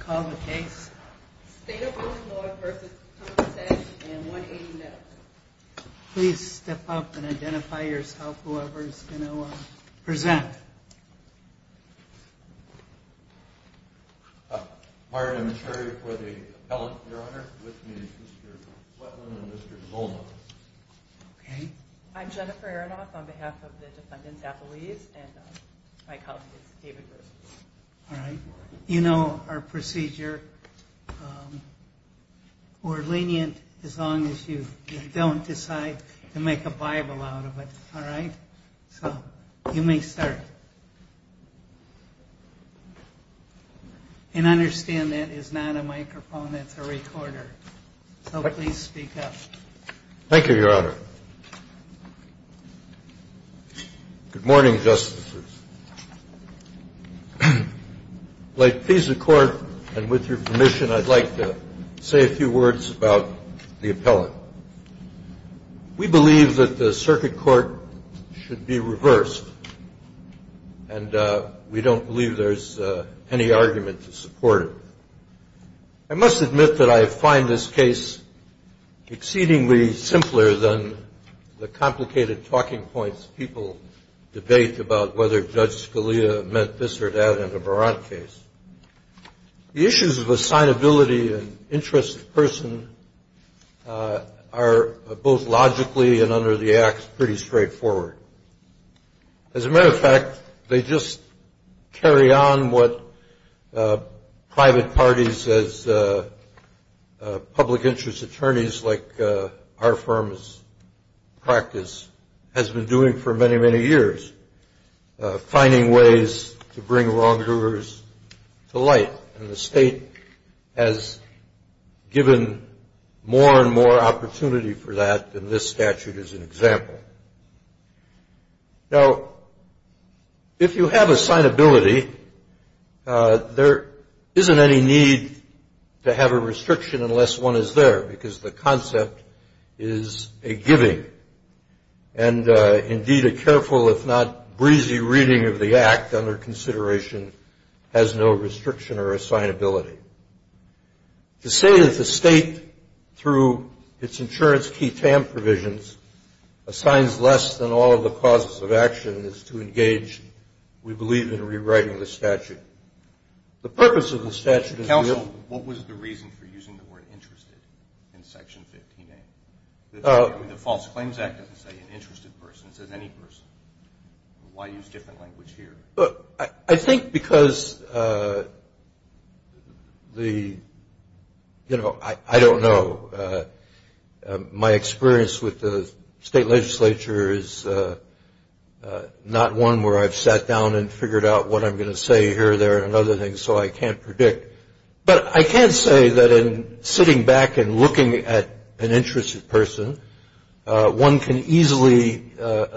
Call the case. State of Ilinois v. Convatec and 180 Medical. Please step up and identify yourself, whoever is going to present. Prior to the hearing for the appellant, your honor, with me is Mr. Wetland and Mr. Zolno. Okay. I'm Jennifer Aronoff on behalf of the defendant's affiliates, and my colleague is David Bruce. All right. You know our procedure. We're lenient as long as you don't decide to make a Bible out of it. All right. So you may start. And understand that is not a microphone, it's a recorder. So please speak up. Thank you, Your Honor. Good morning, Justices. Like visa court, and with your permission, I'd like to say a few words about the appellant. We believe that the circuit court should be reversed, and we don't believe there's any argument to support it. I must admit that I find this case exceedingly simpler than the complicated talking points people debate about whether Judge Scalia meant this or that in the Barat case. The issues of assignability and interest of person are both logically and under the acts pretty straightforward. As a matter of fact, they just carry on what private parties as public interest attorneys like our firm's practice has been doing for many, many years, finding ways to bring wrongdoers to light. And the state has given more and more opportunity for that, and this statute is an example. Now, if you have assignability, there isn't any need to have a restriction unless one is there, because the concept is a giving. And indeed, a careful, if not breezy, reading of the act under consideration has no restriction or assignability. To say that the state, through its insurance key TAM provisions, assigns less than all of the causes of action is to engage, we believe, in rewriting the statute. The purpose of the statute is real. Counsel, what was the reason for using the word interested in Section 15A? The False Claims Act doesn't say an interested person. It says any person. Why use different language here? I think because the, you know, I don't know. My experience with the state legislature is not one where I've sat down and figured out what I'm going to say here, there, and other things, so I can't predict. But I can say that in sitting back and looking at an interested person, one can easily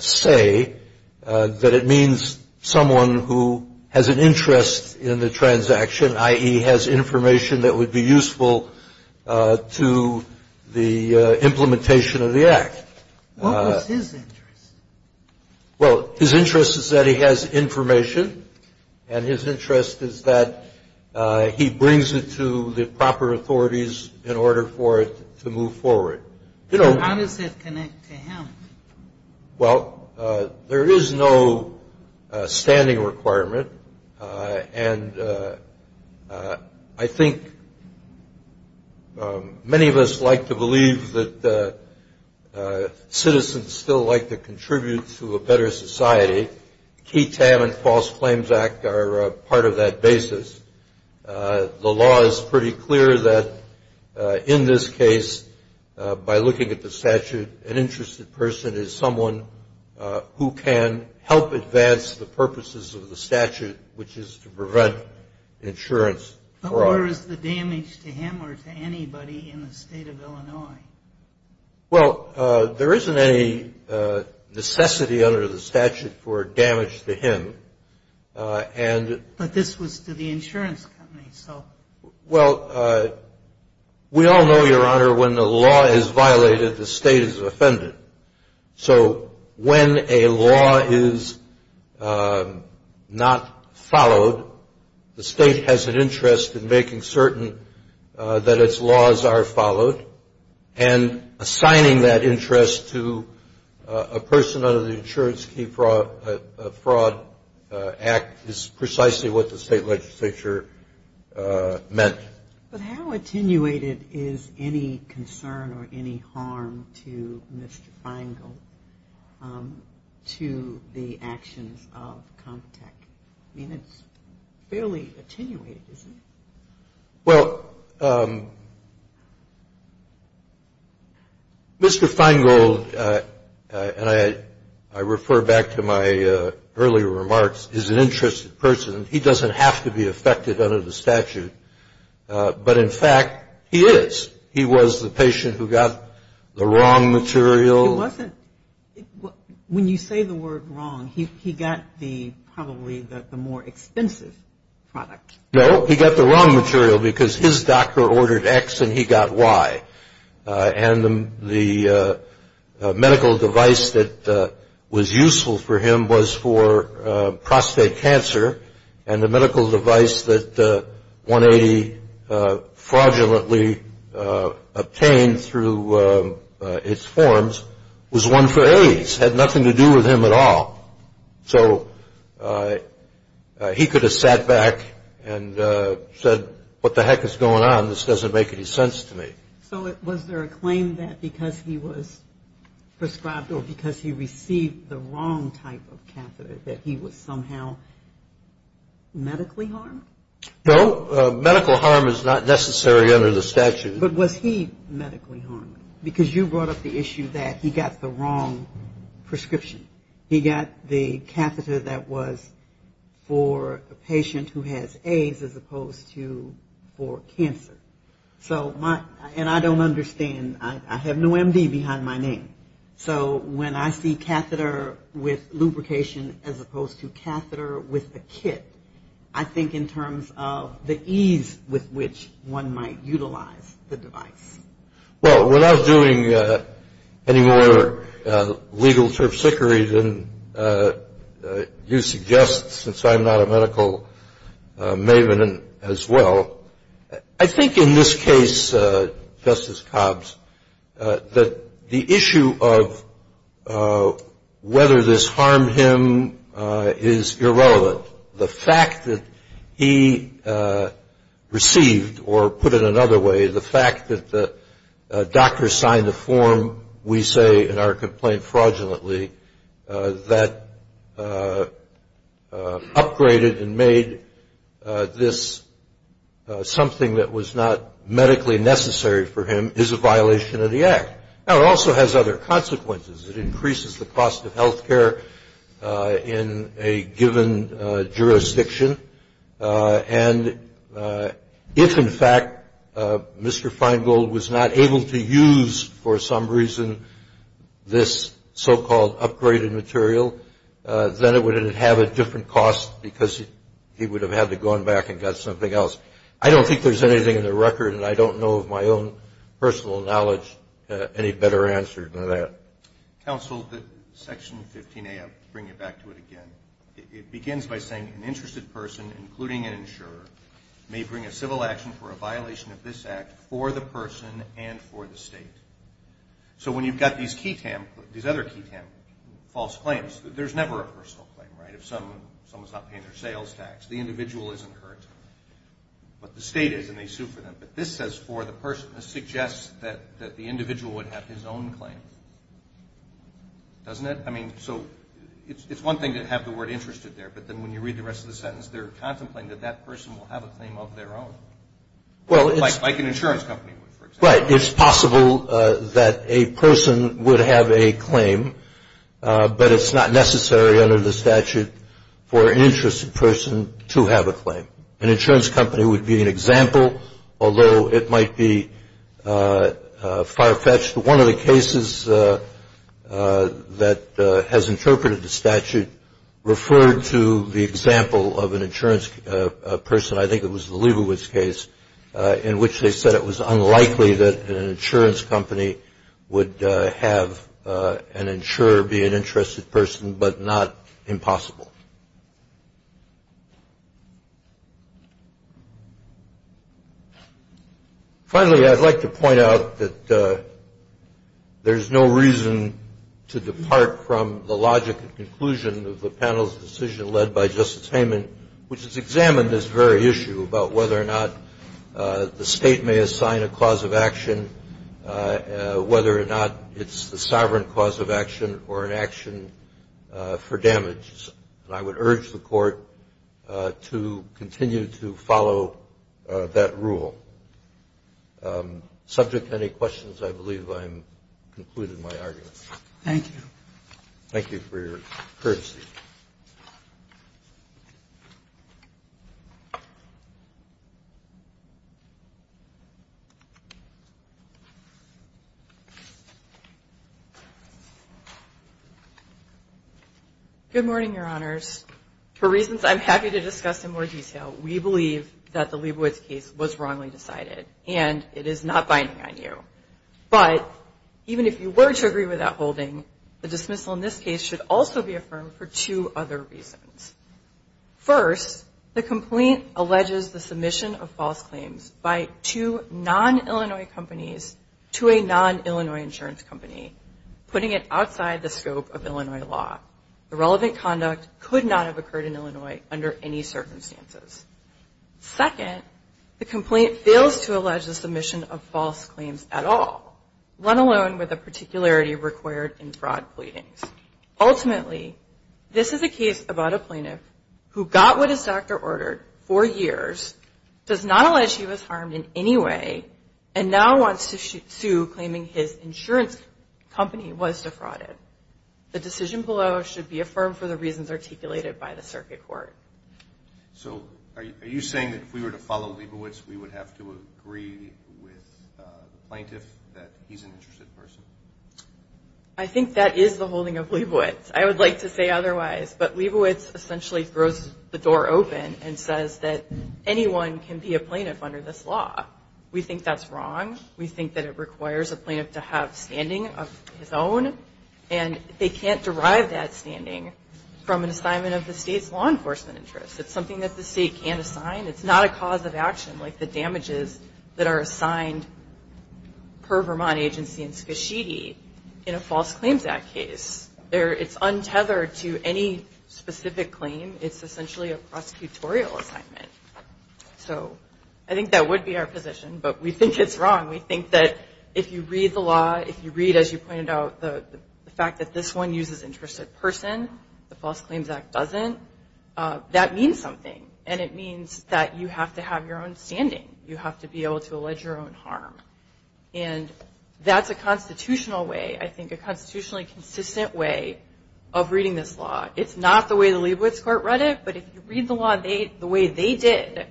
say that it means someone who has an interest in the transaction, i.e., has information that would be useful to the implementation of the act. What was his interest? Well, his interest is that he has information, and his interest is that he brings it to the proper authorities in order for it to move forward. How does that connect to him? Well, there is no standing requirement, and I think many of us like to believe that citizens still like to contribute to a better society. KTAM and False Claims Act are part of that basis. The law is pretty clear that in this case, by looking at the statute, an interested person is someone who can help advance the purposes of the statute, which is to prevent insurance fraud. But where is the damage to him or to anybody in the state of Illinois? Well, there isn't any necessity under the statute for damage to him. But this was to the insurance company, so. Well, we all know, Your Honor, when the law is violated, the state is offended. So when a law is not followed, the state has an interest in making certain that its laws are followed, and assigning that interest to a person under the Insurance Key Fraud Act is precisely what the state legislature meant. But how attenuated is any concern or any harm to Mr. Feingold to the actions of Comtech? I mean, it's fairly attenuated, isn't it? Well, Mr. Feingold, and I refer back to my earlier remarks, is an interested person. He doesn't have to be affected under the statute. But, in fact, he is. He was the patient who got the wrong material. He wasn't. When you say the word wrong, he got the probably the more expensive product. No, he got the wrong material because his doctor ordered X and he got Y. And the medical device that was useful for him was for prostate cancer, and the medical device that 180 fraudulently obtained through its forms was one for AIDS. It had nothing to do with him at all. So he could have sat back and said, what the heck is going on? This doesn't make any sense to me. So was there a claim that because he was prescribed or because he received the wrong type of catheter that he was somehow medically harmed? No. Medical harm is not necessary under the statute. But was he medically harmed? Because you brought up the issue that he got the wrong prescription. He got the catheter that was for a patient who has AIDS as opposed to for cancer. And I don't understand. I have no MD behind my name. So when I see catheter with lubrication as opposed to catheter with a kit, I think in terms of the ease with which one might utilize the device. Well, without doing any more legal terpsichore than you suggest, since I'm not a medical maven as well, I think in this case, Justice Cobbs, that the issue of whether this harmed him is irrelevant. The fact that he received, or put it another way, the fact that the doctor signed a form, we say in our complaint fraudulently, that upgraded and made this something that was not medically necessary for him is a violation of the act. Now, it also has other consequences. It increases the cost of health care in a given jurisdiction. And if, in fact, Mr. Feingold was not able to use, for some reason, this so-called upgraded material, then it would have had a different cost because he would have had to have gone back and got something else. I don't think there's anything in the record, and I don't know of my own personal knowledge, any better answer than that. Counsel, Section 15A, I'll bring you back to it again. It begins by saying an interested person, including an insurer, may bring a civil action for a violation of this act for the person and for the state. So when you've got these other key false claims, there's never a personal claim, right? If someone's not paying their sales tax, the individual isn't hurt. But the state is, and they sue for them. But this says, for the person, this suggests that the individual would have his own claim. Doesn't it? I mean, so it's one thing to have the word interested there, but then when you read the rest of the sentence, they're contemplating that that person will have a claim of their own, like an insurance company would, for example. Right. It's possible that a person would have a claim, but it's not necessary under the statute for an interested person to have a claim. An insurance company would be an example, although it might be far-fetched. One of the cases that has interpreted the statute referred to the example of an insurance person. I think it was the Liebowitz case in which they said it was unlikely that an insurance company would have an insurer be an interested person, but not impossible. Finally, I'd like to point out that there's no reason to depart from the logic and conclusion of the panel's decision led by Justice Hayman, which has examined this very issue about whether or not the State may assign a cause of action, whether or not it's the sovereign cause of action or an action for damage. And I would urge the Court to continue to follow that rule. Subject to any questions, I believe I've concluded my argument. Thank you. Thank you for your courtesy. Thank you. Good morning, Your Honors. For reasons I'm happy to discuss in more detail, we believe that the Liebowitz case was wrongly decided, and it is not binding on you. But even if you were to agree with that holding, the dismissal in this case should also be affirmed for two other reasons. First, the complaint alleges the submission of false claims by two non-Illinois companies to a non-Illinois insurance company, putting it outside the scope of Illinois law. The relevant conduct could not have occurred in Illinois under any circumstances. Second, the complaint fails to allege the submission of false claims at all, let alone with the particularity required in fraud pleadings. Ultimately, this is a case about a plaintiff who got what his doctor ordered for years, does not allege he was harmed in any way, and now wants to sue, claiming his insurance company was defrauded. The decision below should be affirmed for the reasons articulated by the Circuit Court. So are you saying that if we were to follow Liebowitz, we would have to agree with the plaintiff that he's an interested person? I think that is the holding of Liebowitz. I would like to say otherwise. But Liebowitz essentially throws the door open and says that anyone can be a plaintiff under this law. We think that's wrong. We think that it requires a plaintiff to have standing of his own, and they can't derive that standing from an assignment of the state's law enforcement interests. It's something that the state can't assign. It's not a cause of action like the damages that are assigned per Vermont agency and SCSHD in a false claims act case. It's untethered to any specific claim. It's essentially a prosecutorial assignment. So I think that would be our position, but we think it's wrong. We think that if you read the law, if you read, as you pointed out, the fact that this one uses interested person, the False Claims Act doesn't, that means something. And it means that you have to have your own standing. You have to be able to allege your own harm. And that's a constitutional way, I think, a constitutionally consistent way of reading this law. It's not the way the Liebowitz court read it, but if you read the law the way they did,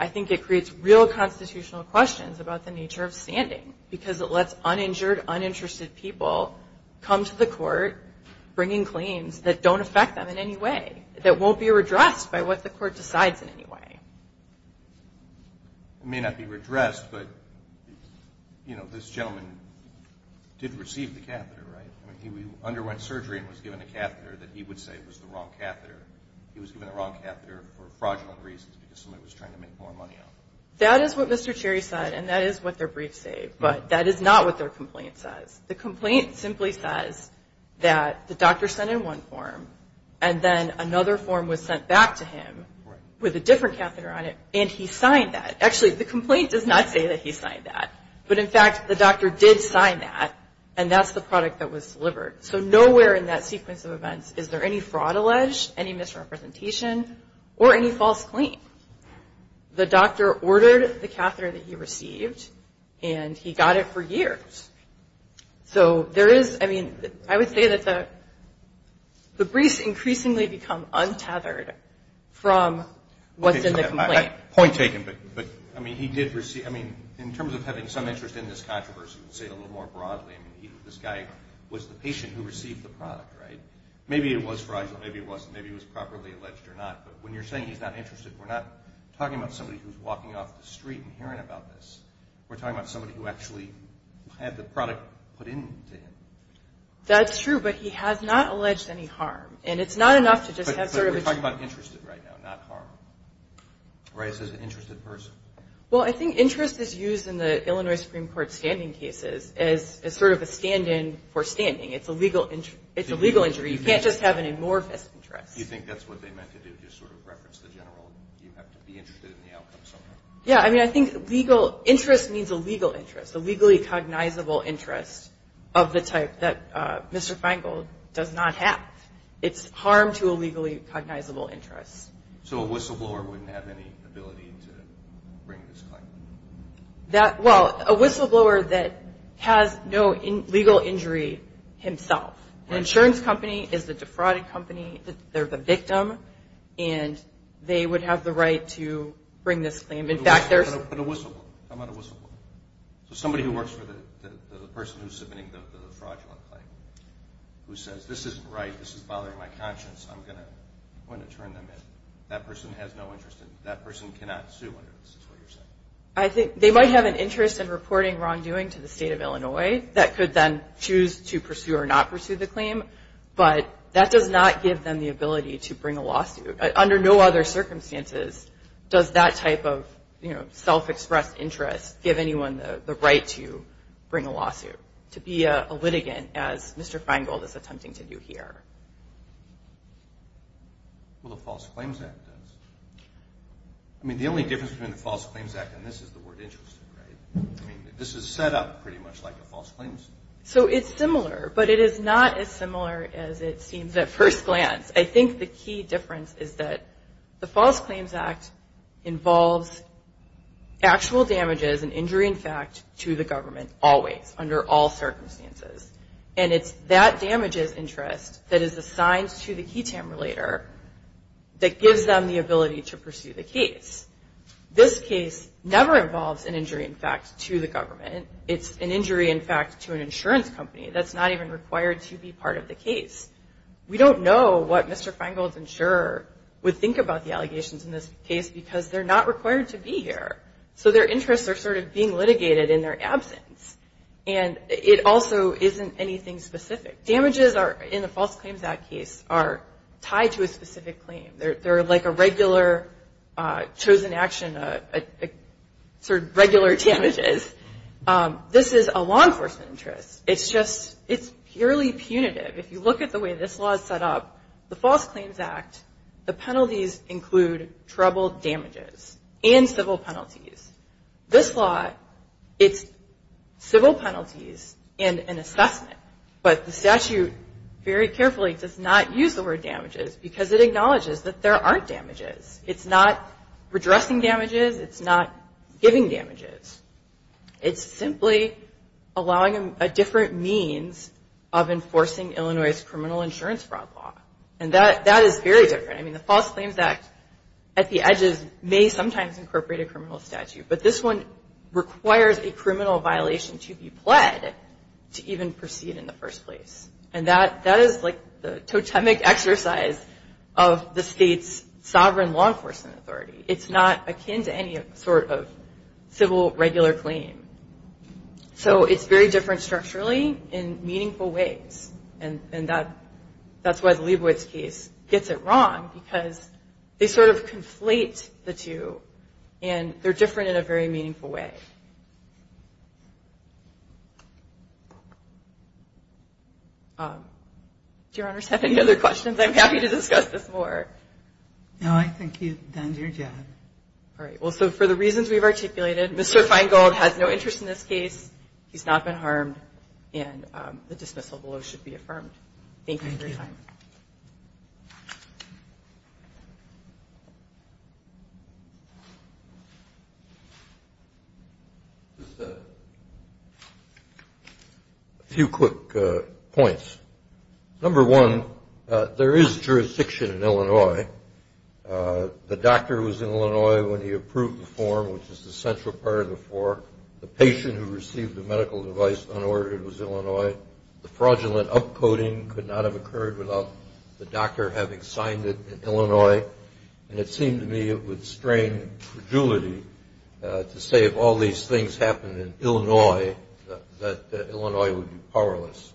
I think it creates real constitutional questions about the nature of standing because it lets uninjured, uninterested people come to the court bringing claims that don't affect them in any way, that won't be redressed by what the court decides in any way. It may not be redressed, but this gentleman did receive the catheter, right? He underwent surgery and was given a catheter that he would say was the wrong catheter. He was given the wrong catheter for fraudulent reasons because somebody was trying to make more money out of it. That is what Mr. Cherry said, and that is what their brief said, but that is not what their complaint says. The complaint simply says that the doctor sent in one form, and then another form was sent back to him with a different catheter on it, and he signed that. Actually, the complaint does not say that he signed that, but in fact, the doctor did sign that, and that's the product that was delivered. So nowhere in that sequence of events is there any fraud alleged, any misrepresentation, or any false claim. The doctor ordered the catheter that he received, and he got it for years. So there is, I mean, I would say that the briefs increasingly become untethered from what's in the complaint. Point taken, but, I mean, he did receive, I mean, in terms of having some interest in this controversy, to say it a little more broadly, I mean, this guy was the patient who received the product, right? Maybe it was fraudulent, maybe it wasn't, maybe it was properly alleged or not, but when you're saying he's not interested, we're not talking about somebody who's walking off the street and hearing about this. We're talking about somebody who actually had the product put into him. That's true, but he has not alleged any harm, and it's not enough to just have sort of a But you're talking about interested right now, not harm, right, as an interested person. Well, I think interest is used in the Illinois Supreme Court standing cases as sort of a stand-in for standing. It's a legal injury. You can't just have an amorphous interest. You think that's what they meant to do, just sort of reference the general? You have to be interested in the outcome somehow. Yeah, I mean, I think legal interest means a legal interest, a legally cognizable interest of the type that Mr. Feingold does not have. It's harm to a legally cognizable interest. So a whistleblower wouldn't have any ability to bring this claim? Well, a whistleblower that has no legal injury himself. An insurance company is the defrauded company. They're the victim, and they would have the right to bring this claim. In fact, there's But a whistleblower. How about a whistleblower? So somebody who works for the person who's submitting the fraudulent claim who says, This isn't right. This is bothering my conscience. I'm going to turn them in. That person has no interest. That person cannot sue under this. That's what you're saying. I think they might have an interest in reporting wrongdoing to the state of Illinois that could then choose to pursue or not pursue the claim, but that does not give them the ability to bring a lawsuit. Under no other circumstances does that type of self-expressed interest give anyone the right to bring a lawsuit, to be a litigant, as Mr. Feingold is attempting to do here. Well, the False Claims Act does. I mean, the only difference between the False Claims Act and this is the word interest rate. I mean, this is set up pretty much like a false claim. So it's similar, but it is not as similar as it seems at first glance. I think the key difference is that the False Claims Act involves actual damages that is an injury in fact to the government always, under all circumstances. And it's that damages interest that is assigned to the key tamer later that gives them the ability to pursue the case. This case never involves an injury in fact to the government. It's an injury in fact to an insurance company that's not even required to be part of the case. We don't know what Mr. Feingold's insurer would think about the allegations in this case because they're not required to be here. So their interests are sort of being litigated in their absence. And it also isn't anything specific. Damages in the False Claims Act case are tied to a specific claim. They're like a regular chosen action, sort of regular damages. This is a law enforcement interest. It's just, it's purely punitive. If you look at the way this law is set up, the False Claims Act, the penalties include troubled damages and civil penalties. This law, it's civil penalties and an assessment. But the statute very carefully does not use the word damages because it acknowledges that there aren't damages. It's not redressing damages. It's not giving damages. It's simply allowing a different means of enforcing Illinois' criminal insurance fraud law. And that is very different. I mean the False Claims Act at the edges may sometimes incorporate a criminal statute. But this one requires a criminal violation to be pled to even proceed in the first place. And that is like the totemic exercise of the state's sovereign law enforcement authority. It's not akin to any sort of civil regular claim. So it's very different structurally in meaningful ways. And that's why the Leibowitz case gets it wrong because they sort of conflate the two. And they're different in a very meaningful way. Do Your Honors have any other questions? I'm happy to discuss this more. No, I think you've done your job. All right. Well, so for the reasons we've articulated, Mr. Feingold has no interest in this case. He's not been harmed. And the dismissal below should be affirmed. Thank you. Thank you. Just a few quick points. Number one, there is jurisdiction in Illinois. The doctor was in Illinois when he approved the form, which is the central part of the form. The patient who received the medical device unordered was Illinois. The fraudulent upcoding could not have occurred without the doctor having signed it in Illinois. And it seemed to me it would strain credulity to say if all these things happened in Illinois, that Illinois would be powerless.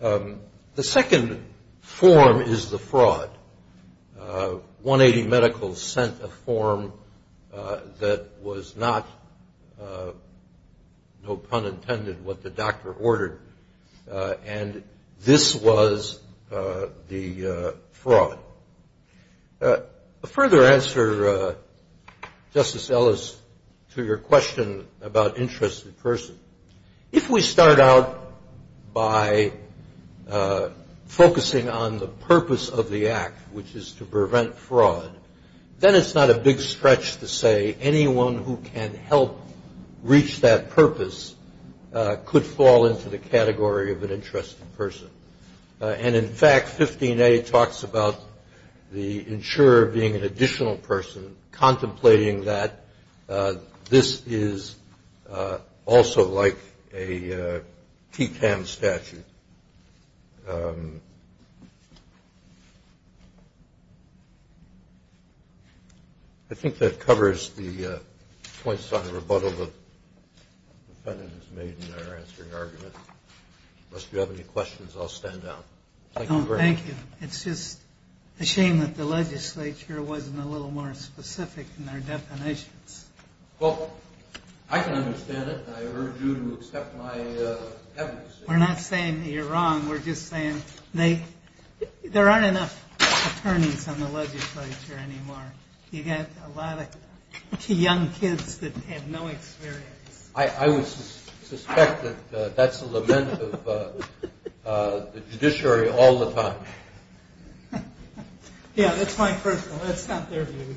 The second form is the fraud. 180 Medical sent a form that was not, no pun intended, what the doctor ordered. And this was the fraud. A further answer, Justice Ellis, to your question about interest in person. If we start out by focusing on the purpose of the act, which is to prevent fraud, then it's not a big stretch to say anyone who can help reach that purpose could fall into the category of an interest in person. And, in fact, 15A talks about the insurer being an additional person, contemplating that this is also like a TTAM statute. I think that covers the points on the rebuttal the defendant has made in their answering argument. Unless you have any questions, I'll stand down. Thank you very much. Thank you. It's just a shame that the legislature wasn't a little more specific in their definitions. Well, I can understand it, and I urge you to accept my evidence. We're not saying that you're wrong. We're just saying there aren't enough attorneys on the legislature anymore. You've got a lot of young kids that have no experience. I would suspect that that's a lament of the judiciary all the time. Yeah, that's my personal. That's not their view. Thank you.